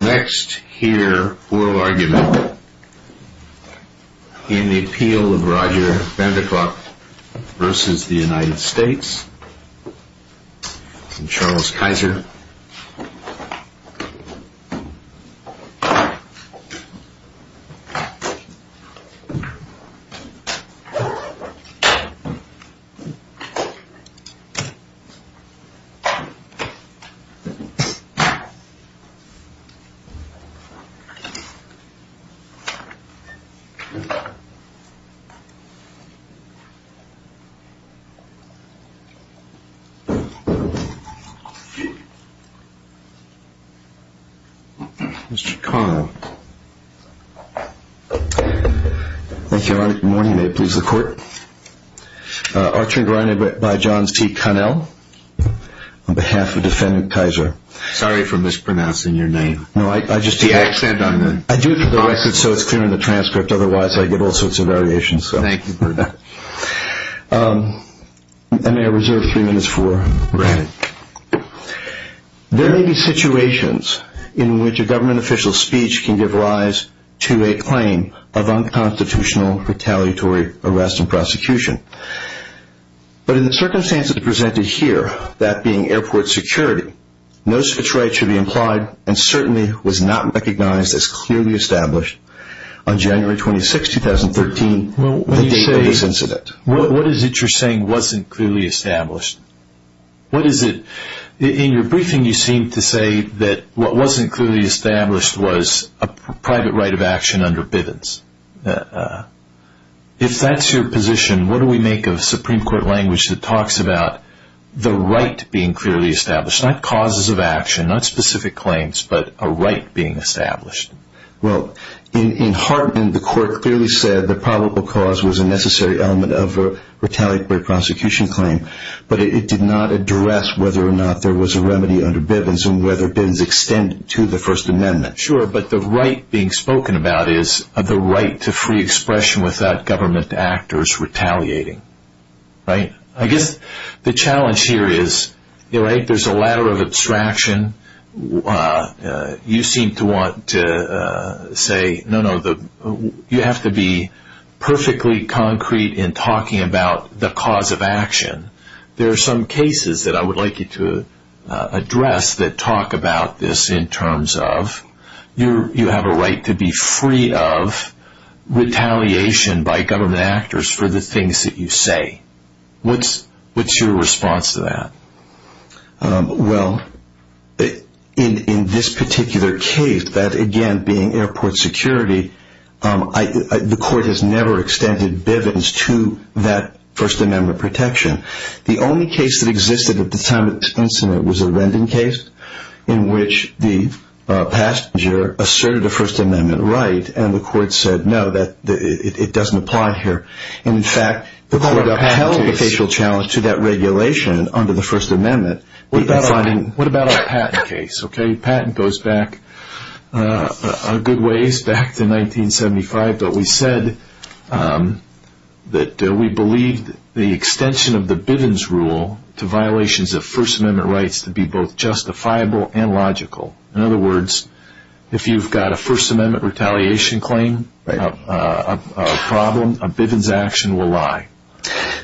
Next here oral argument in the appeal of Roger Vendiklok v. United States Charles Kaiser Archery and grinding by John C. Connell on behalf of defendant Kaiser sorry for mispronouncing your name I do it for the record so it's clear in the transcript otherwise I get all sorts of variations Thank you for that I may reserve three minutes for There may be situations in which a government official's speech can give rise to a claim of unconstitutional retaliatory arrest and prosecution but in the circumstances presented here that being airport security no such right should be implied and certainly was not recognized as clearly established on January 26, 2013 What is it you're saying wasn't clearly established? In your briefing you seem to say that what wasn't clearly established was a private right of action under Bivens If that's your position what do we make of Supreme Court language that talks about the right being clearly established not causes of action, not specific claims but a right being established Well in Hartman the court clearly said the probable cause was a necessary element of retaliatory prosecution claim but it did not address whether or not there was a remedy under Bivens and whether Bivens extended to the First Amendment Sure but the right being spoken about is the right to free expression without government actors retaliating I guess the challenge here is there's a ladder of abstraction you seem to want to say no no you have to be perfectly concrete in talking about the cause of action there are some cases that I would like you to address that talk about this in terms of you have a right to be free of retaliation by government actors for the things that you say What's your response to that? Well in this particular case that again being airport security the court has never extended Bivens to that First Amendment protection the only case that existed at the time of this incident was a rending case in which the passenger asserted a First Amendment right and the court said no it doesn't apply here and in fact the court upheld the facial challenge to that regulation under the First Amendment What about a patent case? Patent goes back a good ways back to 1975 but we said that we believe the extension of the Bivens rule to violations of First Amendment rights to be both justifiable and logical in other words if you've got a First Amendment retaliation claim a problem a Bivens action will lie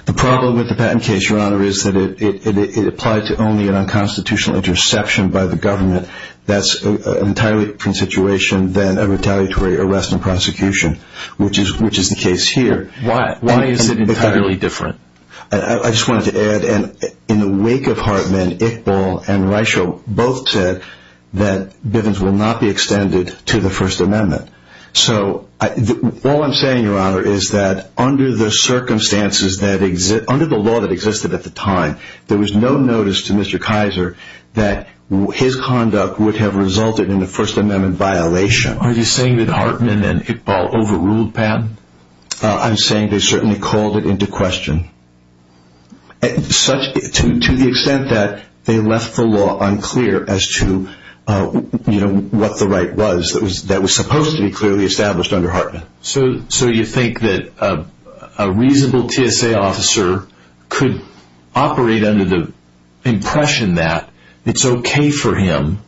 The problem with the patent case your honor is that it applied to only an unconstitutional interception by the government that's an entirely different situation than a retaliatory arrest and prosecution which is the case here Why is it entirely different? I just wanted to add in the wake of Hartman, Iqbal and Reichel both said that Bivens will not be extended to the First Amendment All I'm saying your honor is that under the law that existed at the time there was no notice to Mr. Kaiser that his conduct would have resulted in a First Amendment violation Are you saying that Hartman and Iqbal overruled Pat? I'm saying they certainly called it into question to the extent that they left the law unclear as to what the right was that was supposed to be clearly established under Hartman So you think that a reasonable TSA officer could operate under the impression that it's okay for him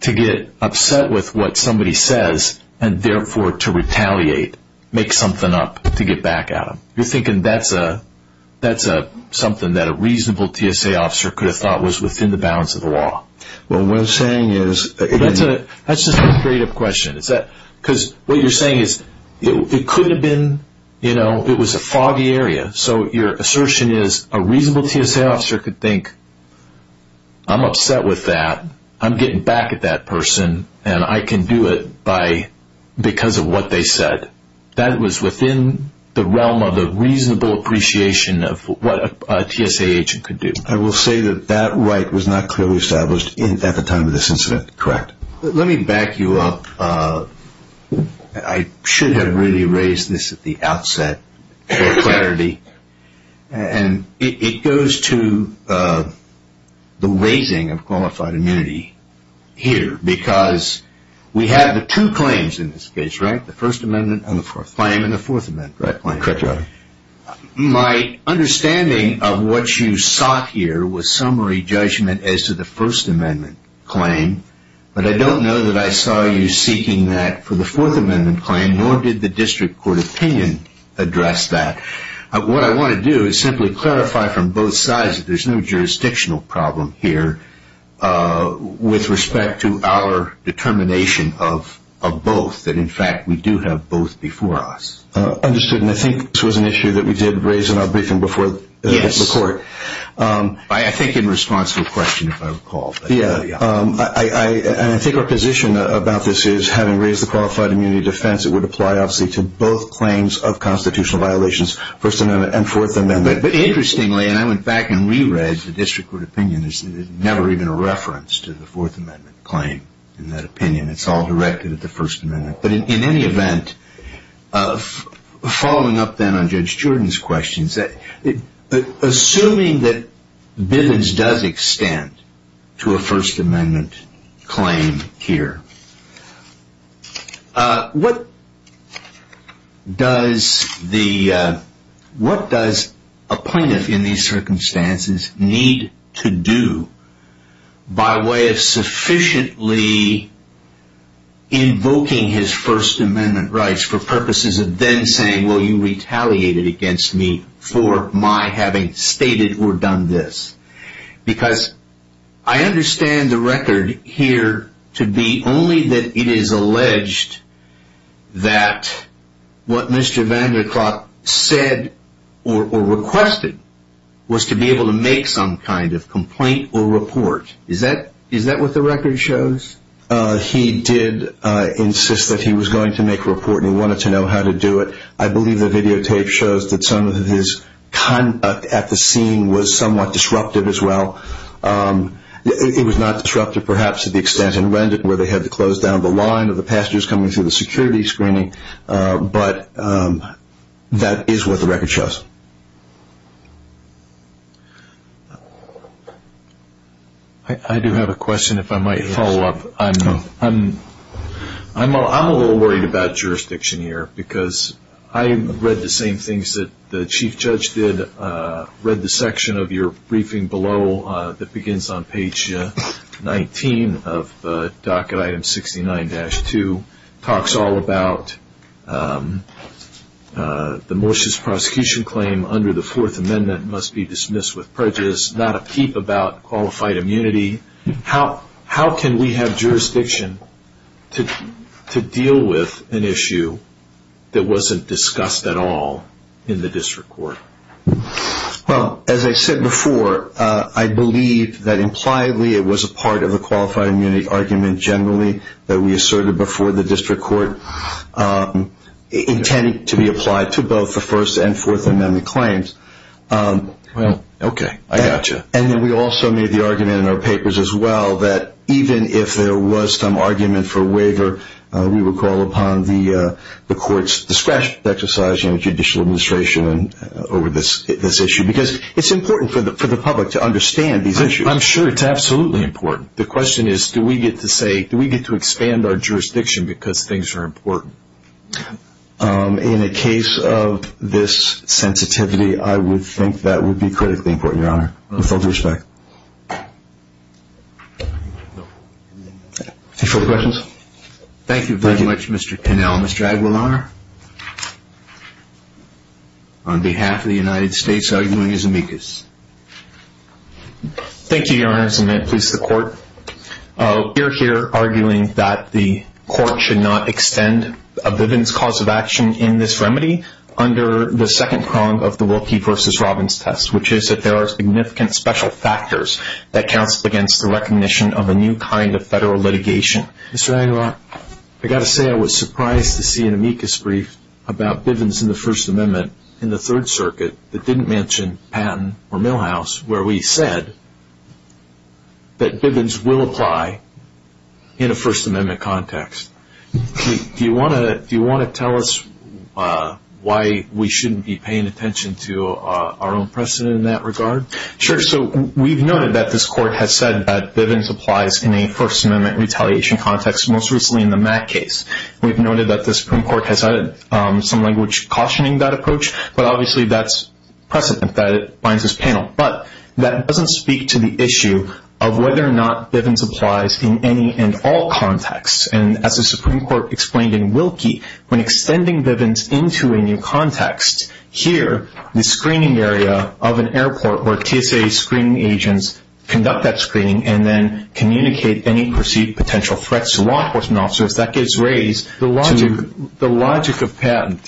to get upset with what somebody says and therefore to retaliate, make something up to get back at him You're thinking that's something that a reasonable TSA officer could have thought was within the bounds of the law What I'm saying is That's just a straight up question What you're saying is it could have been, it was a foggy area so your assertion is a reasonable TSA officer could think I'm upset with that, I'm getting back at that person and I can do it because of what they said That was within the realm of a reasonable appreciation of what a TSA agent could do I will say that that right was not clearly established at the time of this incident, correct? Let me back you up I should have really raised this at the outset for clarity and it goes to the raising of qualified immunity here because we have the two claims in this case, right? The first amendment and the fourth claim My understanding of what you sought here was summary judgment as to the first amendment claim but I don't know that I saw you seeking that for the fourth amendment claim nor did the district court opinion address that What I want to do is simply clarify from both sides that there's no jurisdictional problem here with respect to our determination of both, that in fact we do have both before us Understood, and I think this was an issue that we did raise in our briefing before the court I think in response to a question if I recall I think our position about this is having raised the qualified immunity defense it would apply obviously to both claims of constitutional violations, first amendment and fourth amendment But interestingly, and I went back and re-raised the district court opinion there's never even a reference to the fourth amendment claim in that opinion it's all directed at the first amendment but in any event, following up then on Judge Jordan's questions assuming that Bivens does extend to a first amendment claim here What does a plaintiff in these circumstances need to do by way of sufficiently invoking his first amendment rights for purposes of then saying, well you retaliated against me for my having stated or done this because I understand the record here to be only that it is alleged that what Mr. Vanderklot said or requested was to be able to make some kind of complaint or report is that what the record shows? He did insist that he was going to make a report and he wanted to know how to do it I believe the videotape shows that some of his conduct at the scene was somewhat disrupted as well it was not disrupted perhaps to the extent in Rendon where they had to close down the line of the passengers coming through the security screening but that is what the record shows I do have a question if I might follow up I'm a little worried about jurisdiction here because I read the same things that the Chief Judge did read the section of your briefing below that begins on page 19 of docket item 69-2 talks all about the malicious prosecution claim under the fourth amendment must be dismissed with prejudice not a peep about qualified immunity how can we have jurisdiction to deal with an issue that wasn't discussed at all in the district court? Well as I said before I believe that impliedly it was a part of a qualified immunity argument generally that we asserted before the district court intending to be applied to both the first and fourth amendment claims I got you and we also made the argument in our papers as well that even if there was some argument for waiver we would call upon the courts discretion to exercise in judicial administration over this issue because it's important for the public to understand these issues I'm sure it's absolutely important the question is do we get to expand our jurisdiction because things are important? In the case of this sensitivity I would think that would be critically important Your Honor with all due respect Any further questions? Thank you very much Mr. Connell Mr. Aguilar on behalf of the United States arguing as amicus Thank you Your Honor just a minute please the court we're here arguing that the court should not extend a Bivens cause of action in this remedy under the second prong of the Wilkie v. Robbins test which is that there are significant special factors that counts against the recognition of a new kind of federal litigation Mr. Aguilar I got to say I was surprised to see an amicus brief about Bivens in the first amendment in the third circuit that didn't mention Patton or Milhouse where we said that Bivens will apply in a first amendment context Do you want to tell us why we shouldn't be paying attention to our own precedent in that regard? Sure, so we've noted that this court has said that Bivens applies in a first amendment retaliation context most recently in the Mack case We've noted that the Supreme Court has added some language cautioning that approach but obviously that's precedent that it binds this panel but that doesn't speak to the issue of whether or not Bivens applies in any and all contexts and as the Supreme Court explained in Wilkie when extending Bivens into a new context here, the screening area of an airport where TSA screening agents conduct that screening and then communicate any perceived potential threats to law enforcement officers that gets raised to The logic of Patton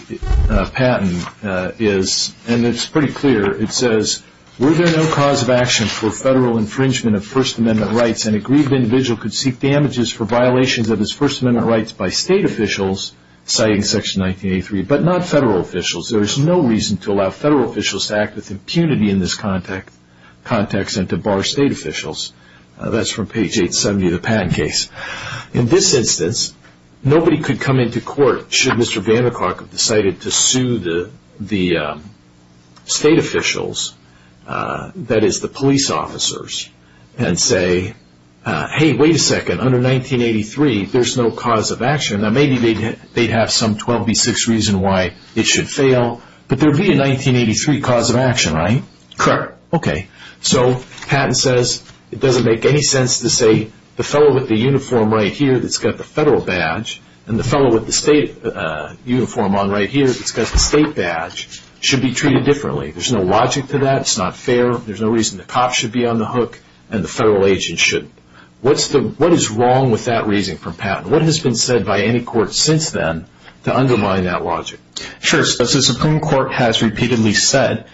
is and it's pretty clear it says Were there no cause of action for federal infringement of first amendment rights and a grieved individual could seek damages for violations of his first amendment rights by state officials citing section 1983 but not federal officials There is no reason to allow federal officials to act with impunity in this context and to bar state officials That's from page 870 of the Patton case In this instance nobody could come into court should Mr. Vanderklark have decided to sue the state officials that is the police officers and say Hey, wait a second under 1983 there's no cause of action Now maybe they'd have some 12B6 reason why it should fail but there would be a 1983 cause of action, right? Correct Okay So Patton says it doesn't make any sense to say the fellow with the uniform right here that's got the federal badge and the fellow with the state uniform on right here that's got the state badge should be treated differently There's no logic to that It's not fair There's no reason the cops should be on the hook and the federal agents shouldn't What is wrong with that reasoning from Patton? What has been said by any court since then to undermine that logic? Sure, so the Supreme Court has repeatedly said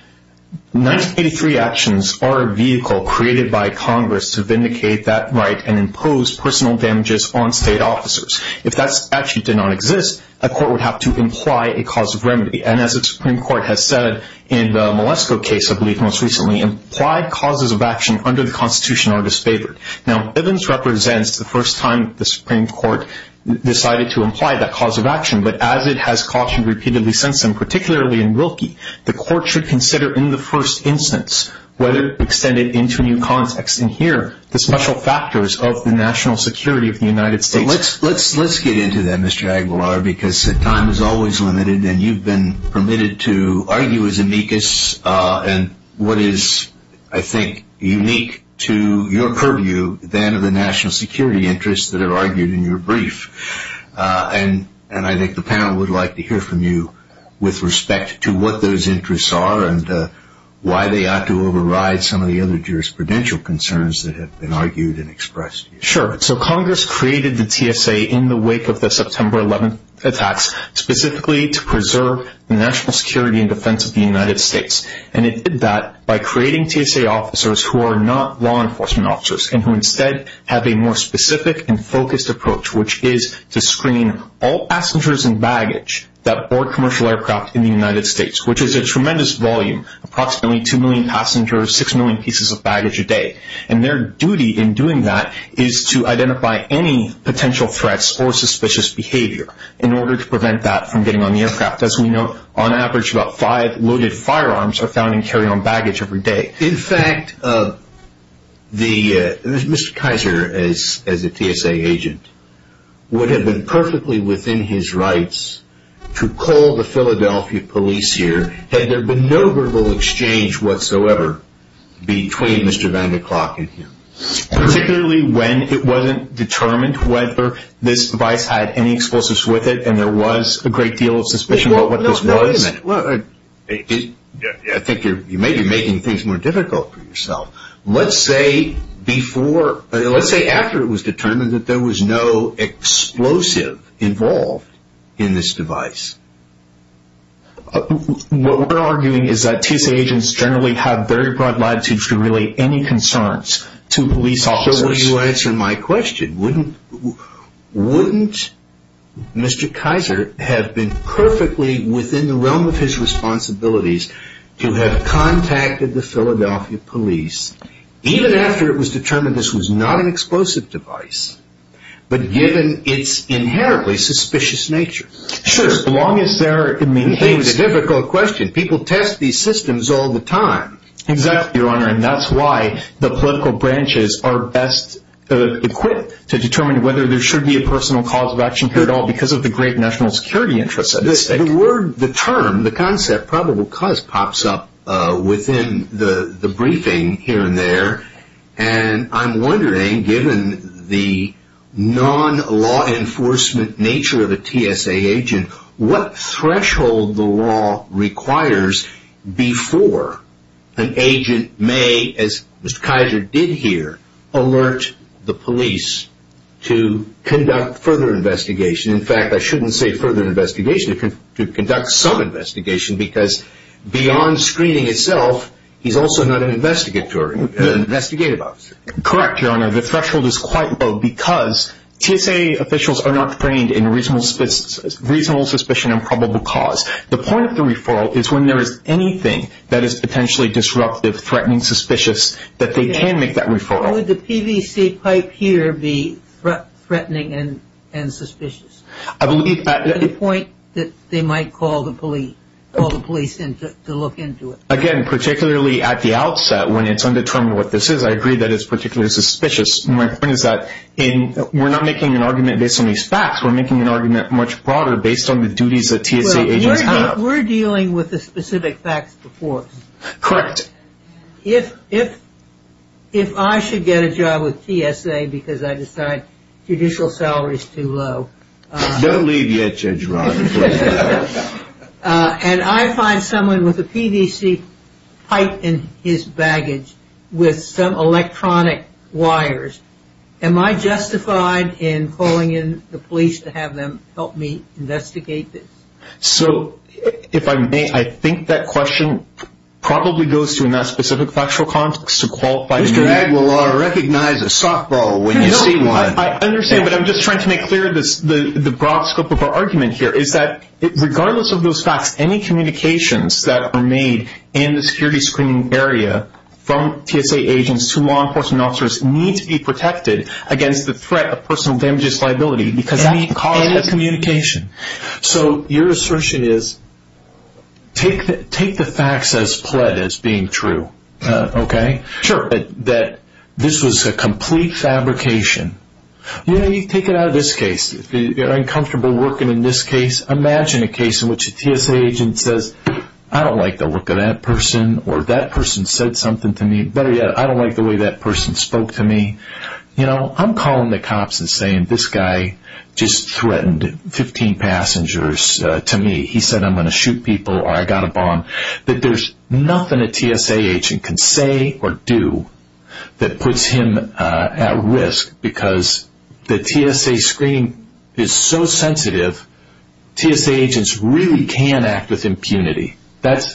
1983 actions are a vehicle created by Congress to vindicate that right and impose personal damages on state officers If that statute did not exist a court would have to imply a cause of remedy and as the Supreme Court has said in the Malesko case I believe most recently implied causes of action under the Constitution are disfavored Now, Bivens represents the first time the Supreme Court decided to imply that cause of action but as it has cautioned repeatedly since then particularly in Wilkie the court should consider in the first instance whether to extend it into new context and here the special factors of the national security of the United States Let's get into that Mr. Aguilar because time is always limited and you've been permitted to argue as amicus and what is, I think, unique to your purview than the national security interests that are argued in your brief and I think the panel would like to hear from you with respect to what those interests are and why they ought to override some of the other jurisprudential concerns that have been argued and expressed Sure, so Congress created the TSA in the wake of the September 11th attacks specifically to preserve the national security and defense of the United States and it did that by creating TSA officers who are not law enforcement officers and who instead have a more specific and focused approach which is to screen all passengers and baggage that board commercial aircraft in the United States which is a tremendous volume approximately 2 million passengers 6 million pieces of baggage a day and their duty in doing that is to identify any potential threats or suspicious behavior in order to prevent that from getting on the aircraft as we know, on average, about 5 loaded firearms are found in carry-on baggage every day In fact, Mr. Kaiser, as a TSA agent would have been perfectly within his rights to call the Philadelphia police here had there been no verbal exchange whatsoever between Mr. van der Klook and him Particularly when it wasn't determined whether this device had any explosives with it and there was a great deal of suspicion about what this was Wait a minute I think you're making things more difficult for yourself Let's say after it was determined that there was no explosive involved in this device What we're arguing is that TSA agents generally have very broad latitudes to relay any concerns to police officers So will you answer my question? Wouldn't Mr. Kaiser have been perfectly within the realm of his responsibilities to have contacted the Philadelphia police even after it was determined this was not an explosive device but given its inherently suspicious nature? Sure As long as there are... You're asking a difficult question People test these systems all the time Exactly, Your Honor And that's why the political branches are best equipped to determine whether there should be a personal cause of action here at all because of the great national security interests The term, the concept, probable cause pops up within the briefing here and there and I'm wondering given the non-law enforcement nature of a TSA agent what threshold the law requires before an agent may, as Mr. Kaiser did here alert the police to conduct further investigation In fact, I shouldn't say further investigation to conduct some investigation because beyond screening itself he's also not an investigative officer Correct, Your Honor The threshold is quite low because TSA officials are not trained in reasonable suspicion and probable cause The point of the referral is when there is anything that is potentially disruptive, threatening, suspicious that they can make that referral Would the PVC pipe here be threatening and suspicious? I believe... To the point that they might call the police to look into it Again, particularly at the outset when it's undetermined what this is I agree that it's particularly suspicious My point is that we're not making an argument based on these facts We're making an argument much broader based on the duties that TSA agents have We're dealing with the specific facts before us Correct If I should get a job with TSA because I decide judicial salary is too low Don't leave yet, Judge Rogers And I find someone with a PVC pipe in his baggage with some electronic wires Am I justified in calling in the police to have them help me investigate this? So, if I may, I think that question probably goes to a not specific factual context Mr. Aguilar, recognize a softball when you see one I understand, but I'm just trying to make clear the broad scope of our argument here is that regardless of those facts any communications that are made in the security screening area from TSA agents to law enforcement officers need to be protected against the threat of personal damages liability because that can cause a communication So, your assertion is take the facts as pled as being true Okay? Sure That this was a complete fabrication You know, you take it out of this case You're uncomfortable working in this case Imagine a case in which a TSA agent says I don't like the look of that person or that person said something to me Better yet, I don't like the way that person spoke to me You know, I'm calling the cops and saying this guy just threatened 15 passengers to me He said I'm going to shoot people or I got a bomb There's nothing a TSA agent can say or do that puts him at risk because the TSA screening is so sensitive TSA agents really can act with impunity That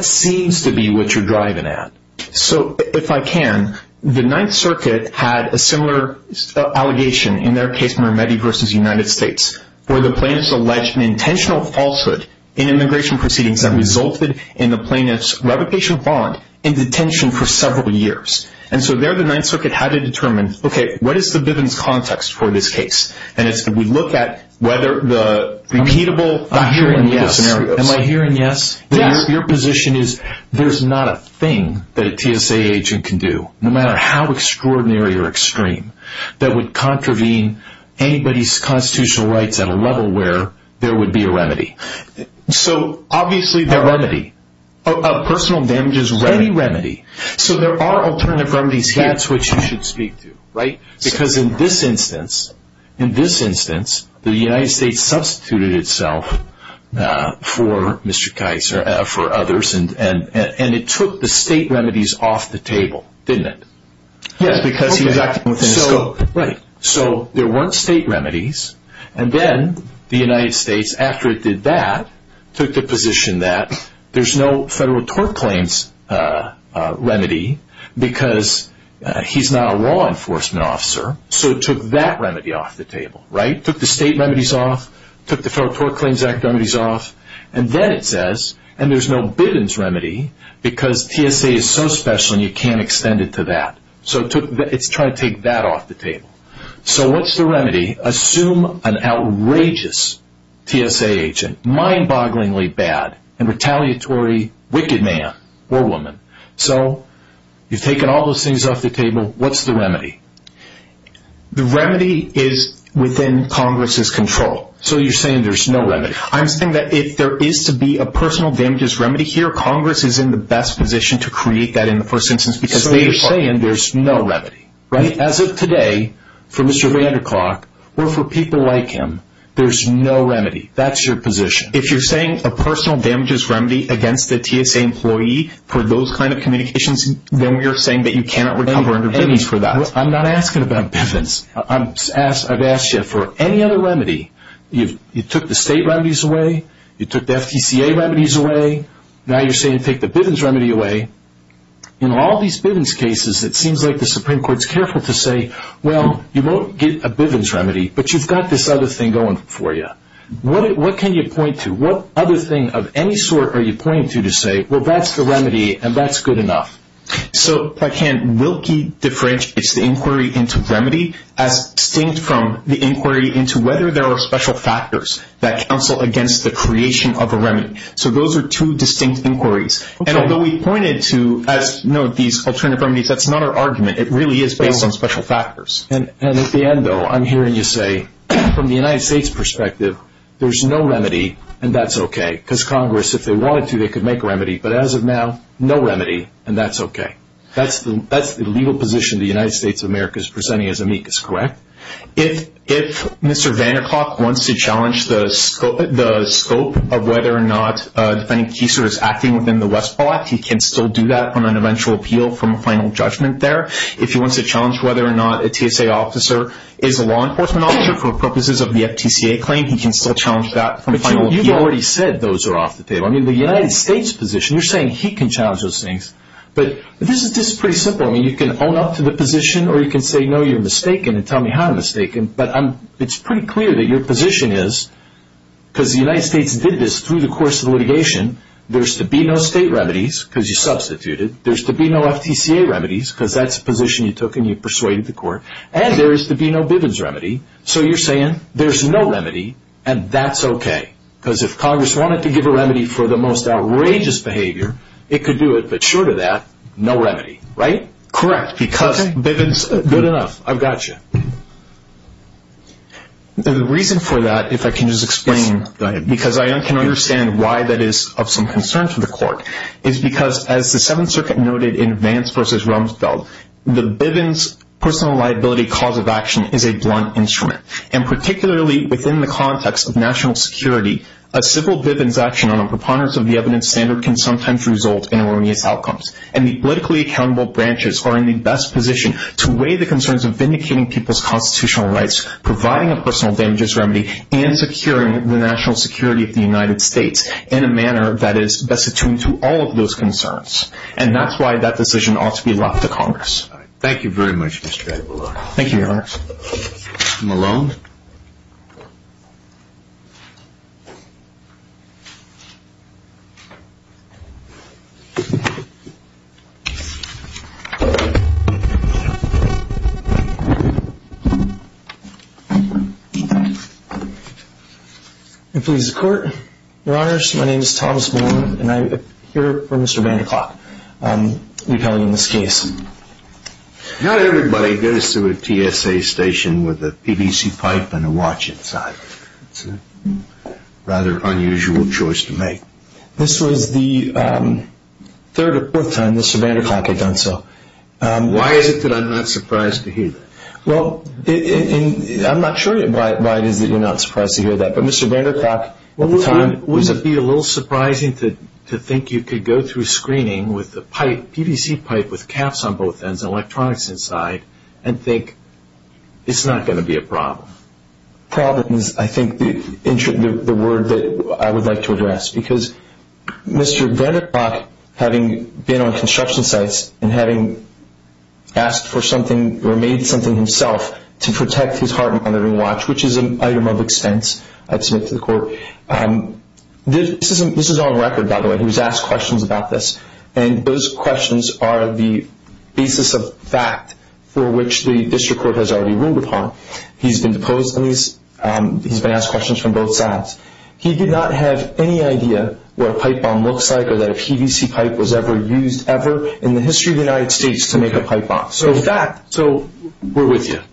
seems to be what you're driving at So, if I can The Ninth Circuit had a similar allegation in their case, Mermetti v. United States where the plaintiffs alleged an intentional falsehood in immigration proceedings that resulted in the plaintiffs' reputational bond in detention for several years And so there, the Ninth Circuit had to determine Okay, what is the evidence context for this case? And we look at whether the repeatable I'm hearing yes Am I hearing yes? Yes Your position is there's not a thing that a TSA agent can do no matter how extraordinary or extreme that would contravene anybody's constitutional rights at a level where there would be a remedy So, obviously there are A remedy A personal damages remedy Any remedy So there are alternative remedies here That's what you should speak to, right? Because in this instance In this instance, the United States substituted itself for Mr. Kaiser for others And it took the state remedies off the table Didn't it? Yes Because he was acting within the scope Right So, there weren't state remedies And then the United States after it did that took the position that there's no federal tort claims remedy because he's not a law enforcement officer So it took that remedy off the table Right? So it took the state remedies off took the federal tort claims remedies off And then it says and there's no biddens remedy because TSA is so special and you can't extend it to that So it's trying to take that off the table So what's the remedy? Assume an outrageous TSA agent mind-bogglingly bad and retaliatory wicked man or woman So, you've taken all those things off the table What's the remedy? The remedy is within Congress's control So you're saying there's no remedy I'm saying that if there is to be a personal damages remedy here Congress is in the best position to create that in the first instance So you're saying there's no remedy Right? As of today for Mr. Vanderklok or for people like him there's no remedy That's your position If you're saying a personal damages remedy against a TSA employee for those kind of communications then you're saying that you cannot recover under biddings for that I'm not asking about biddings I've asked you for any other remedy You took the state remedies away You took the FTCA remedies away Now you're saying take the biddings remedy away In all these biddings cases it seems like the Supreme Court is careful to say Well, you won't get a biddings remedy but you've got this other thing going for you What can you point to? What other thing of any sort are you pointing to to say Well, that's the remedy and that's good enough So, by hand Wilkie differentiates the inquiry into remedy as distinct from the inquiry into whether there are special factors that counsel against the creation of a remedy So those are two distinct inquiries And although we pointed to as note these alternative remedies that's not our argument It really is based on special factors And at the end though I'm hearing you say from the United States perspective there's no remedy and that's okay because Congress if they wanted to they could make a remedy but as of now no remedy and that's okay That's the legal position the United States of America is presenting as amicus Correct? If Mr. Vanderclough wants to challenge the scope of whether or not defendant Kieser is acting within the Westpaw Act he can still do that on an eventual appeal from a final judgment there If he wants to challenge whether or not a TSA officer is a law enforcement officer for purposes of the FTCA claim he can still challenge that from a final appeal But you've already said those are off the table I mean, the United States position you're saying he can challenge those things but this is pretty simple I mean, you can own up to the position or you can say no, you're mistaken and tell me how I'm mistaken but it's pretty clear that your position is because the United States did this through the course of the litigation there's to be no state remedies because you substituted there's to be no FTCA remedies because that's a position you took and you persuaded the court and there is to be no Bivens remedy so you're saying there's no remedy and that's okay because if Congress wanted to give a remedy for the most outrageous behavior it could do it but short of that no remedy, right? Correct because Bivens Good enough I've got you The reason for that if I can just explain go ahead because I can understand why that is of some concern to the court is because as the 7th Circuit noted in Vance v. Rumsfeld the Bivens personal liability cause of action is a blunt instrument and particularly within the context of national security a simple Bivens action on a personal liability proponents of the evidence standard can sometimes result in erroneous outcomes and the politically accountable branches are in the best position to weigh the concerns of vindicating people's constitutional rights providing a personal damages remedy and securing the national security of the United States in a manner that is best attuned to and that's why that decision ought to be left to Congress Thank you very much Mr. Aguilar Thank you, Your Honor Mr. Malone I plead the court Your Honor my name is Thomas Malone and I appear for Mr. Vanderklok repelling this case Not everybody goes to a TSA station with a PVC pipe go into the details of that but I'm going to tell you a little bit about what the TSA does and what the TSA does So I'm going to a little bit does and what the TSA does and what the TSA does and what the TSA does and what the TSA does the and what the TSA does So here a plate bomb to the U.S. So we're with you.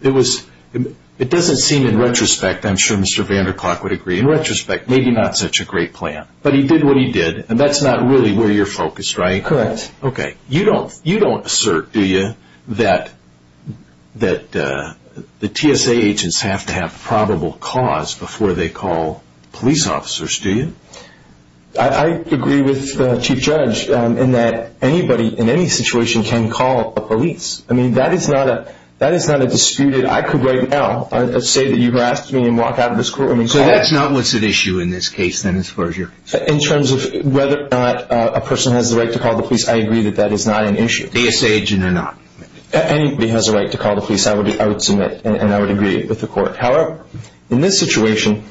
It was it doesn't seem in retrospect I'm sure Mr. VanderClough would agree, in retrospect, maybe not such a great plan. But he did what he did and that's not really where you're focused. Right? Correct. OK. You don't assert, do you, that that the TSA agents have to have probable cause before they call police officers. Do you? I I agree with the Chief Judge in that anybody in any situation can call a police. I mean, that is not a that is not a disputed I could right now say that you've asked me and walk out of this court. So that's not what's at issue in this case then as far as you're In terms of whether or not a person has the right to call the police, I agree that that is not an issue. TSA agent or not? Anybody has a right to call the police, I would submit and I would agree with the court. However, in this situation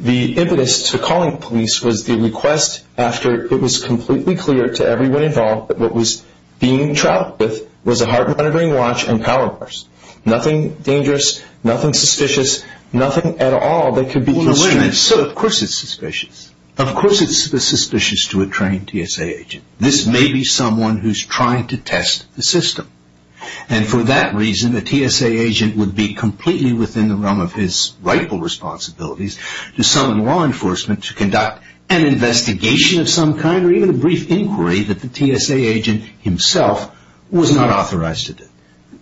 the impetus to calling police was the request after it was completely clear to everyone involved that what was being traveled with was a heart monitoring watch and power bars. Nothing dangerous. Nothing suspicious. Nothing at all that could be Well, wait a minute. Of course it's suspicious. Of course it's suspicious to a trained TSA agent. This may be someone who's trying to test the system. And for that reason, a TSA agent would be completely within the realm of his rightful responsibilities to summon law enforcement to conduct an investigation of some kind, or even a brief inquiry that the TSA agent himself was not authorized to do.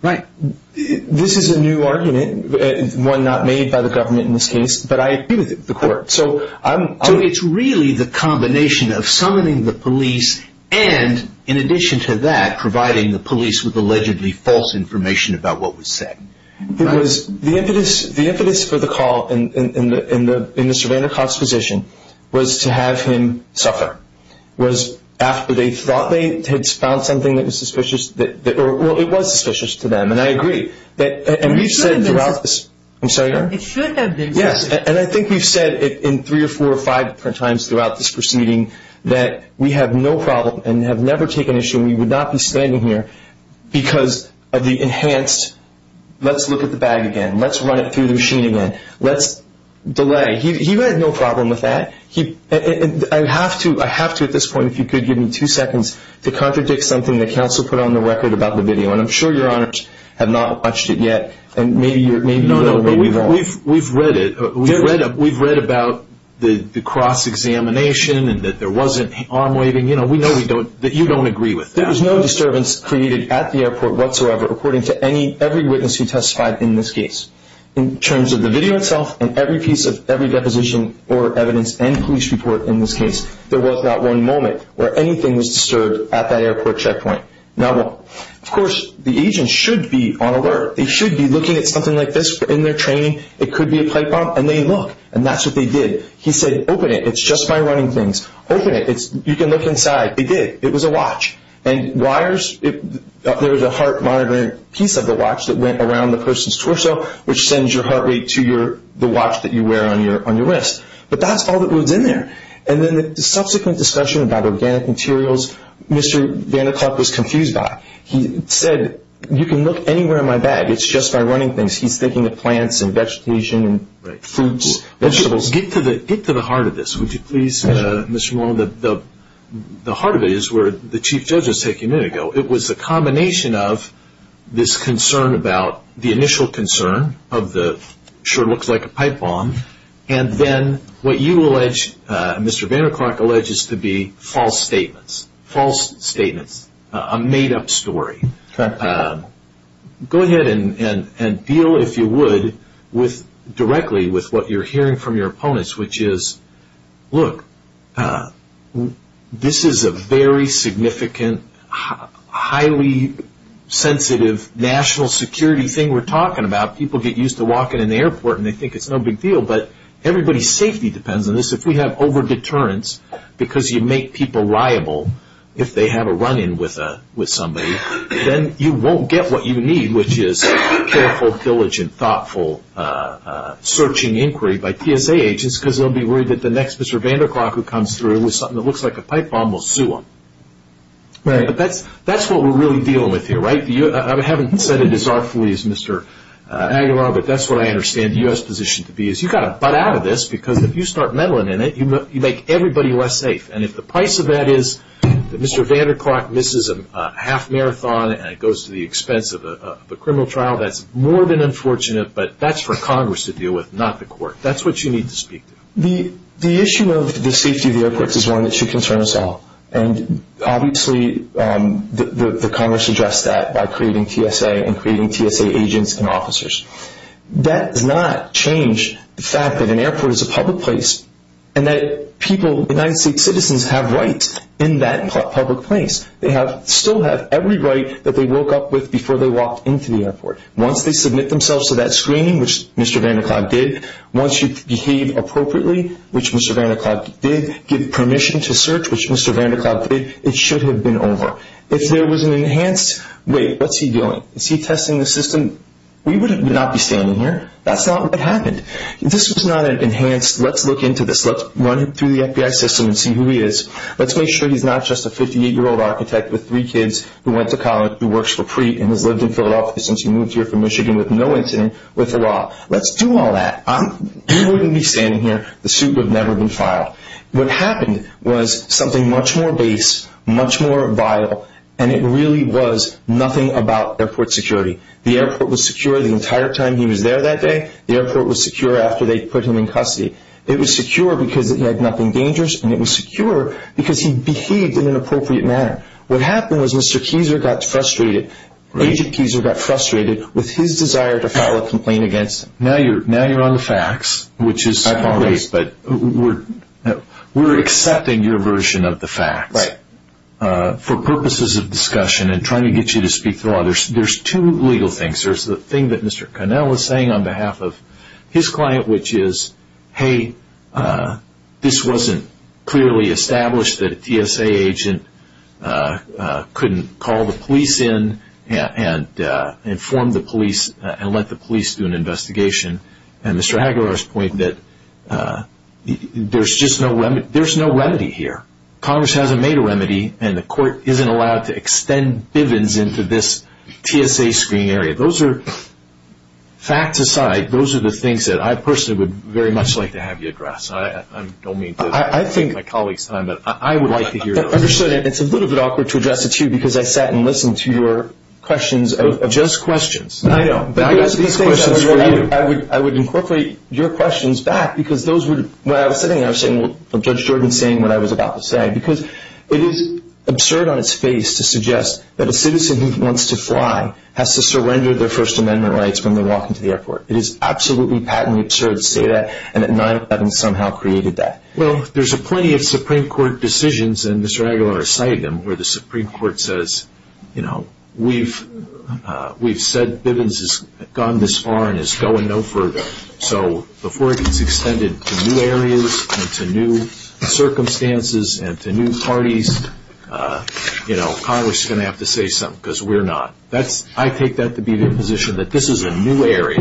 Right. This is a new argument. One not made by the government in this case. But I agree with the court. So it's really the combination of summoning the police and, in addition to that, providing the police with allegedly false information about what was said. The impetus for the call in Mr. Vaynerchuk's position was to have him suffer. It was after they thought they had found something that was suspicious. Well, it was suspicious to them, and I agree. And we've said throughout this I'm sorry. It should have been. Yes, and I think we've said it in three or four or five different times throughout this proceeding that we have no problem and have never taken issue and we would not be standing here because of the enhanced let's look at the bag again, let's run it through the machine again, let's delay. He had no problem with that. I have to at this point, if you could give me two seconds to contradict something that counsel put on the record about the video and I'm sure your honors have not watched it yet and maybe you know where we've gone. We've read it. We've read about the cross-examination and that there wasn't arm waving. We know that you don't agree with that. There was no disturbance created at the airport whatsoever according to every witness who testified in this case in terms of the video itself and every piece of every deposition or evidence and police report in this case. There was not one moment where anything was disturbed at that airport checkpoint. Now, of course, the agent should be on alert. They should be looking at something like this in their training. It could be a pipe bomb. And they look, and that's what they did. He said, open it. It's just my running things. Open it. You can look inside. They did. It was a watch. And wires, there was a heart monitor piece of the watch that went around the person's torso, which sends your heart rate to the watch that you wear on your wrist. But that's all that was in there. And then the subsequent discussion about organic materials, Mr. Van der Klook was confused by. He said, you can look anywhere in my bag. It's just my running things. He's thinking of plants and vegetation and fruits, vegetables. Get to the heart of this, would you please, Mr. Mullen. The heart of it is where the chief judge was taking a minute ago. So it was a combination of this concern about the initial concern of the, sure looks like a pipe bomb, and then what you allege, Mr. Van der Klook alleges to be false statements, false statements, a made-up story. Go ahead and deal, if you would, directly with what you're hearing from your opponents, which is, look, this is a very significant, highly sensitive national security thing we're talking about. People get used to walking in the airport and they think it's no big deal, but everybody's safety depends on this. If we have over-deterrence because you make people liable if they have a run-in with somebody, then you won't get what you need, which is careful, diligent, thoughtful searching inquiry by TSA agents because they'll be worried that the next Mr. Van der Klook who comes through with something that looks like a pipe bomb will sue them. But that's what we're really dealing with here, right? I haven't said it as artfully as Mr. Aguilar, but that's what I understand the U.S. position to be is you've got to butt out of this because if you start meddling in it, you make everybody less safe. And if the price of that is that Mr. Van der Klook misses a half marathon and it goes to the expense of a criminal trial, that's more than unfortunate, but that's for Congress to deal with, not the court. That's what you need to speak to. The issue of the safety of the airports is one that should concern us all, and obviously the Congress addressed that by creating TSA and creating TSA agents and officers. That does not change the fact that an airport is a public place and that people, United States citizens, have rights in that public place. They still have every right that they woke up with before they walked into the airport. Once they submit themselves to that screening, which Mr. Van der Klook did, once you behave appropriately, which Mr. Van der Klook did, give permission to search, which Mr. Van der Klook did, it should have been over. If there was an enhanced, wait, what's he doing? Is he testing the system? We would not be standing here. That's not what happened. If this was not enhanced, let's look into this. Let's run it through the FBI system and see who he is. Let's make sure he's not just a 58-year-old architect with three kids who went to college, who works for Preet and has lived in Philadelphia since he moved here from Michigan with no incident with the law. Let's do all that. We wouldn't be standing here. The suit would have never been filed. What happened was something much more base, much more vital, and it really was nothing about airport security. The airport was secure the entire time he was there that day. The airport was secure after they put him in custody. It was secure because he had nothing dangerous, and it was secure because he behaved in an appropriate manner. What happened was Mr. Keyser got frustrated. Agent Keyser got frustrated with his desire to file a complaint against him. Now you're on the facts, which is great, but we're accepting your version of the facts for purposes of discussion and trying to get you to speak to the law. There's two legal things. There's the thing that Mr. Connell is saying on behalf of his client, which is, hey, this wasn't clearly established that a TSA agent couldn't call the police in and inform the police and let the police do an investigation, and Mr. Hagelauer's point that there's no remedy here. Congress hasn't made a remedy, and the court isn't allowed to extend bivens into this TSA screen area. Those are facts aside. Those are the things that I personally would very much like to have you address. I don't mean to take my colleagues' time, but I would like to hear yours. It's a little bit awkward to address it to you because I sat and listened to your questions of just questions. I know. I would incorporate your questions back because when I was sitting there, I was sitting with Judge Jordan saying what I was about to say because it is absurd on its face to suggest that a citizen who wants to fly has to surrender their First Amendment rights when they walk into the airport. It is absolutely patently absurd to say that and that 9-11 somehow created that. Well, there's plenty of Supreme Court decisions, and Mr. Hagelauer has cited them, where the Supreme Court says, you know, we've said bivens has gone this far and is going no further, so before it gets extended to new areas and to new circumstances and to new parties, Congress is going to have to say something because we're not. I take that to be the position that this is a new area.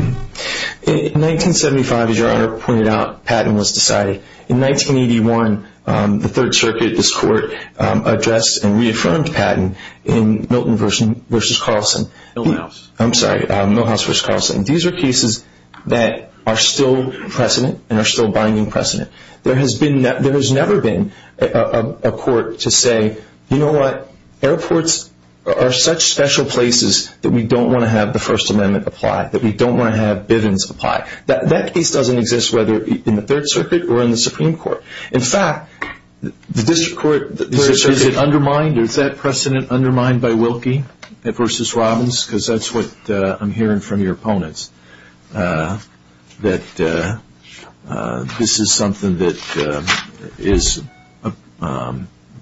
In 1975, as your Honor pointed out, patent was decided. In 1981, the Third Circuit, this Court, addressed and reaffirmed patent in Milton v. Carlson. Milhouse. I'm sorry, Milhouse v. Carlson. These are cases that are still precedent and are still binding precedent. There has never been a court to say, you know what? Airports are such special places that we don't want to have the First Amendment apply, that we don't want to have bivens apply. That case doesn't exist whether in the Third Circuit or in the Supreme Court. In fact, the District Court, is it undermined? I'm hearing from your opponents that this is something that is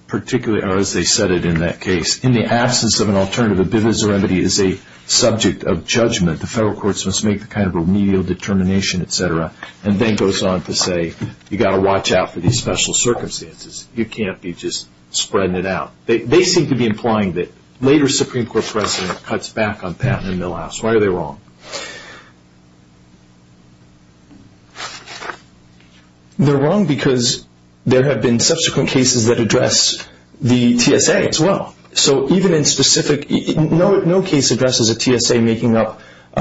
particularly, or as they said it in that case, in the absence of an alternative, a bivens remedy is a subject of judgment. The federal courts must make the kind of remedial determination, et cetera, and then goes on to say you've got to watch out for these special circumstances. You can't be just spreading it out. They seem to be implying that later Supreme Court precedent cuts back on patent in Milhouse. Why are they wrong? They're wrong because there have been subsequent cases that address the TSA as well. So even in specific, no case addresses a TSA making up the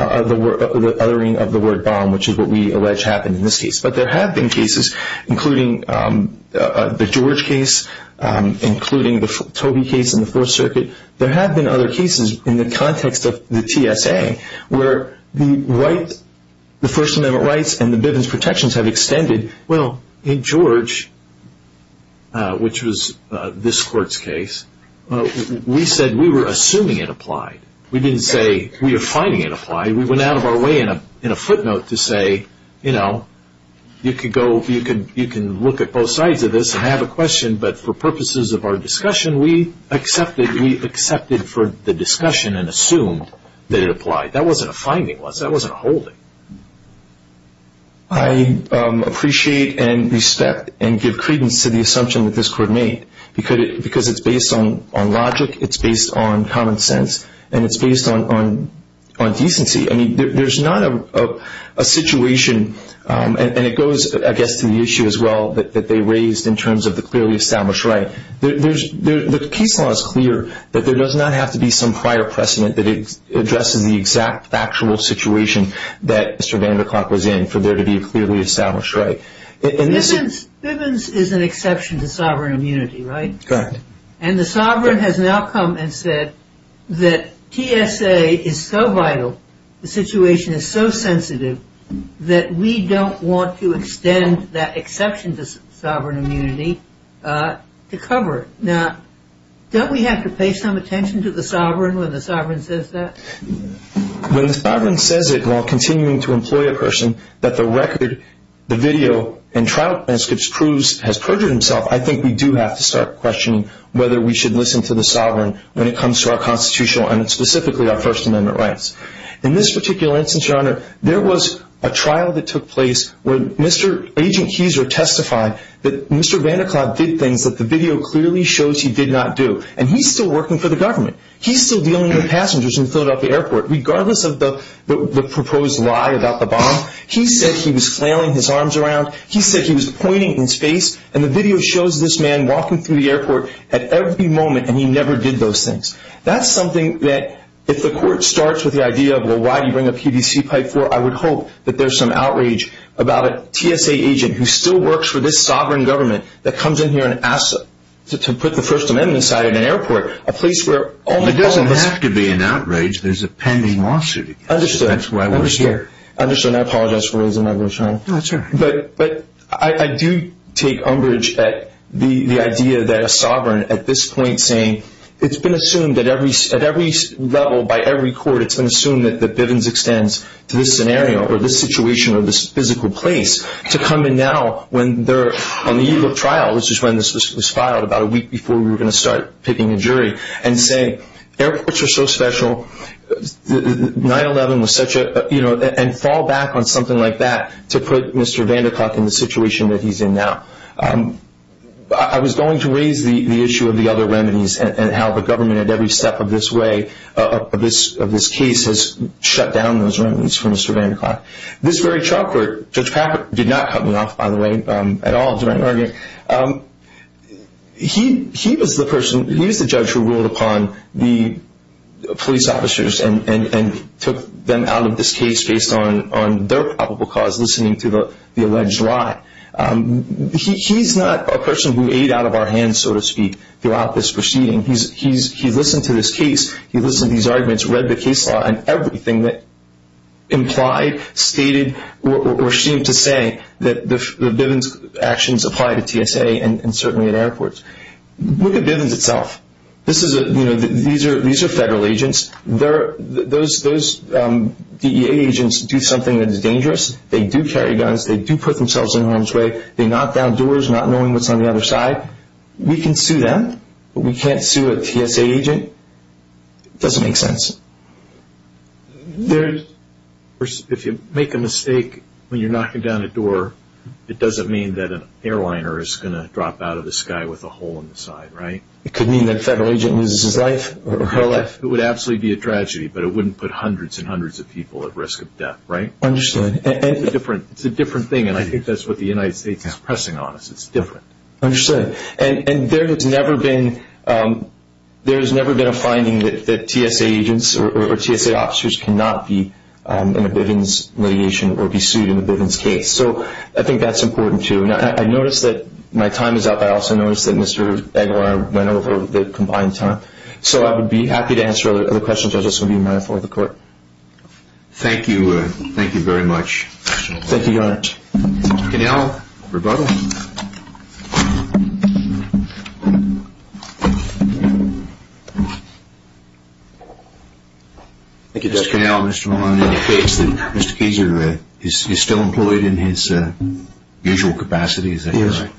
othering of the word bomb, which is what we allege happened in this case. But there have been cases, including the George case, including the Toby case in the Fourth Circuit. There have been other cases in the context of the TSA where the right, the First Amendment rights and the bivens protections have extended. Well, in George, which was this court's case, we said we were assuming it applied. We didn't say we are finding it applied. We went out of our way in a footnote to say, you know, you can look at both sides of this and have a question, but for purposes of our discussion, we accepted for the discussion and assumed that it applied. That wasn't a finding, was it? That wasn't a holding. I appreciate and respect and give credence to the assumption that this court made because it's based on logic, it's based on common sense, and it's based on decency. I mean, there's not a situation, and it goes, I guess, to the issue as well, that they raised in terms of the clearly established right. The case law is clear that there does not have to be some prior precedent that addresses the exact factual situation that Mr. Vanderklark was in for there to be a clearly established right. Bivens is an exception to sovereign immunity, right? Correct. And the sovereign has now come and said that TSA is so vital, the situation is so sensitive, that we don't want to extend that exception to sovereign immunity to cover it. Now, don't we have to pay some attention to the sovereign when the sovereign says that? When the sovereign says it while continuing to employ a person, that the record, the video, and trial transcripts proves has perjured himself, I think we do have to start questioning whether we should listen to the sovereign when it comes to our constitutional and specifically our First Amendment rights. In this particular instance, Your Honor, there was a trial that took place where Agent Kieser testified that Mr. Vanderklark did things that the video clearly shows he did not do, and he's still working for the government. He's still dealing with passengers in the Philadelphia airport. Regardless of the proposed lie about the bomb, he said he was flailing his arms around. He said he was pointing in space, and the video shows this man walking through the airport at every moment, and he never did those things. That's something that if the court starts with the idea of, well, why do you bring a PVC pipe for? I would hope that there's some outrage about a TSA agent who still works for this sovereign government that comes in here and asks to put the First Amendment aside at an airport, It doesn't have to be an outrage. There's a pending lawsuit against him. Understood. That's why we're here. Understood, and I apologize for raising my voice, Your Honor. That's all right. But I do take umbrage at the idea that a sovereign at this point saying, it's been assumed at every level by every court, it's been assumed that Bivens extends to this scenario or this situation or this physical place to come in now when they're on the eve of trial, which is when this was filed, about a week before we were going to start picking a jury, and say airports are so special, 9-11 was such a, you know, and fall back on something like that to put Mr. Vanderclough in the situation that he's in now. I was going to raise the issue of the other remedies and how the government at every step of this way, of this case, has shut down those remedies for Mr. Vanderclough. This very trial court, Judge Packard did not cut me off, by the way, at all during the argument. He was the person, he was the judge who ruled upon the police officers and took them out of this case based on their probable cause, listening to the alleged lie. He's not a person who ate out of our hands, so to speak, throughout this proceeding. He listened to this case. He listened to these arguments, read the case law and everything that implied, stated, or seemed to say that the Bivens actions apply to TSA and certainly at airports. Look at Bivens itself. These are federal agents. Those DEA agents do something that is dangerous. They do carry guns. They do put themselves in harm's way. They knock down doors not knowing what's on the other side. We can sue them, but we can't sue a TSA agent. It doesn't make sense. If you make a mistake when you're knocking down a door, it doesn't mean that an airliner is going to drop out of the sky with a hole in the side, right? It could mean that a federal agent loses his life or her life. It would absolutely be a tragedy, but it wouldn't put hundreds and hundreds of people at risk of death, right? Understood. It's a different thing, and I think that's what the United States is pressing on us. It's different. Understood. And there has never been a finding that TSA agents or TSA officers cannot be in a Bivens litigation or be sued in a Bivens case. So I think that's important, too. I noticed that my time is up. I also noticed that Mr. Aguilar went over the combined time. So I would be happy to answer other questions. I just want to be mindful of the Court. Thank you. Thank you very much. Thank you, Your Honor. Mr. Cannell, rebuttal. Thank you, Judge. Mr. Cannell, Mr. Maloney indicates that Mr. Keeser is still employed in his usual capacity, is that correct? Yes.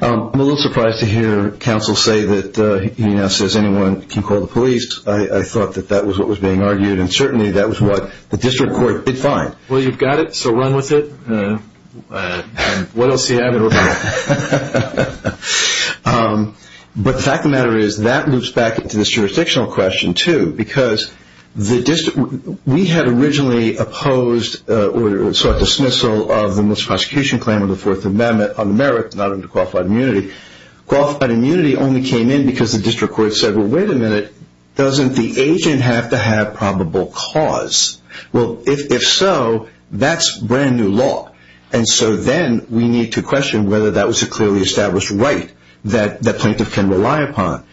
I'm a little surprised to hear counsel say that he now says anyone can call the police. I thought that that was what was being argued, and certainly that was what the district court did find. Well, you've got it, so run with it. What else do you have in order to go? But the fact of the matter is that loops back into this jurisdictional question, too, because we had originally opposed or sought dismissal of the most prosecution claim of the Fourth Amendment on the merits not under qualified immunity. Qualified immunity only came in because the district court said, well, wait a minute, doesn't the agent have to have probable cause? Well, if so, that's brand new law, and so then we need to question whether that was a clearly established right that the plaintiff can rely upon.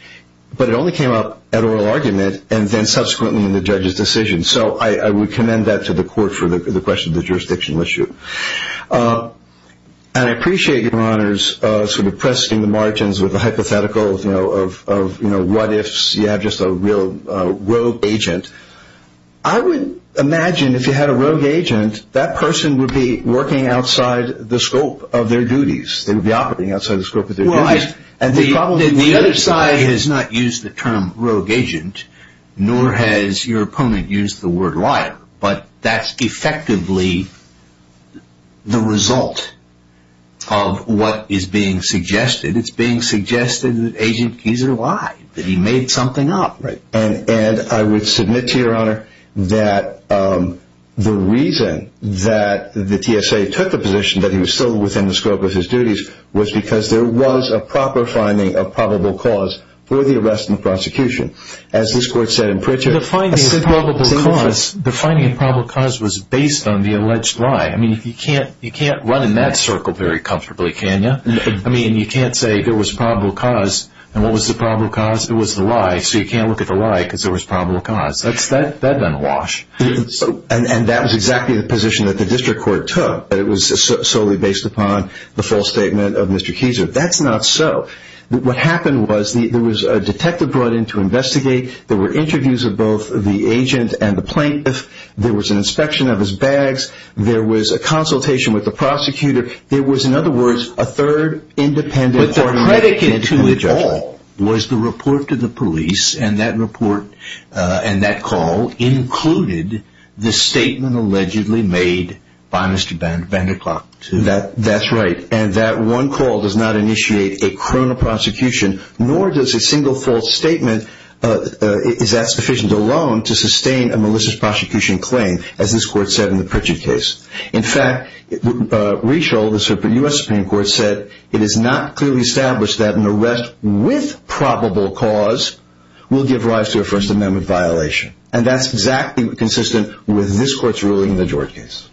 But it only came up at oral argument and then subsequently in the judge's decision, so I would commend that to the court for the question of the jurisdictional issue. And I appreciate, Your Honors, sort of pressing the margins with a hypothetical of what ifs. You have just a real rogue agent. I would imagine if you had a rogue agent, that person would be working outside the scope of their duties. They would be operating outside the scope of their duties. The other side has not used the term rogue agent, nor has your opponent used the word liar, but that's effectively the result of what is being suggested. It's being suggested that Agent Keezer lied, that he made something up. And I would submit to Your Honor that the reason that the TSA took the position that he was still within the scope of his duties was because there was a proper finding of probable cause for the arrest and prosecution. As this court said in Pritchett, the finding of probable cause was based on the alleged lie. I mean, you can't run in that circle very comfortably, can you? I mean, you can't say there was probable cause, and what was the probable cause? It was the lie, so you can't look at the lie because there was probable cause. That's done awash. And that was exactly the position that the district court took, that it was solely based upon the false statement of Mr. Keezer. That's not so. What happened was there was a detective brought in to investigate. There were interviews of both the agent and the plaintiff. There was an inspection of his bags. There was a consultation with the prosecutor. There was, in other words, a third independent party. And the etiquette to it all was the report to the police, and that report and that call included the statement allegedly made by Mr. Van der Klok. That's right. And that one call does not initiate a criminal prosecution, nor does a single false statement is that sufficient alone to sustain a malicious prosecution claim, as this court said in the Pritchett case. In fact, Reschel, the U.S. Supreme Court, said it is not clearly established that an arrest with probable cause will give rise to a First Amendment violation. And that's exactly consistent with this court's ruling in the George case.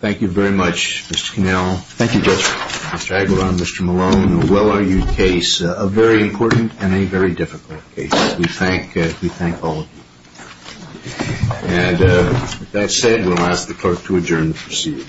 Thank you very much, Mr. Connell. Thank you, Judge. Mr. Aguilar and Mr. Malone, a well-argued case, a very important and a very difficult case. We thank all of you. And with that said, we'll ask the clerk to adjourn the proceeding.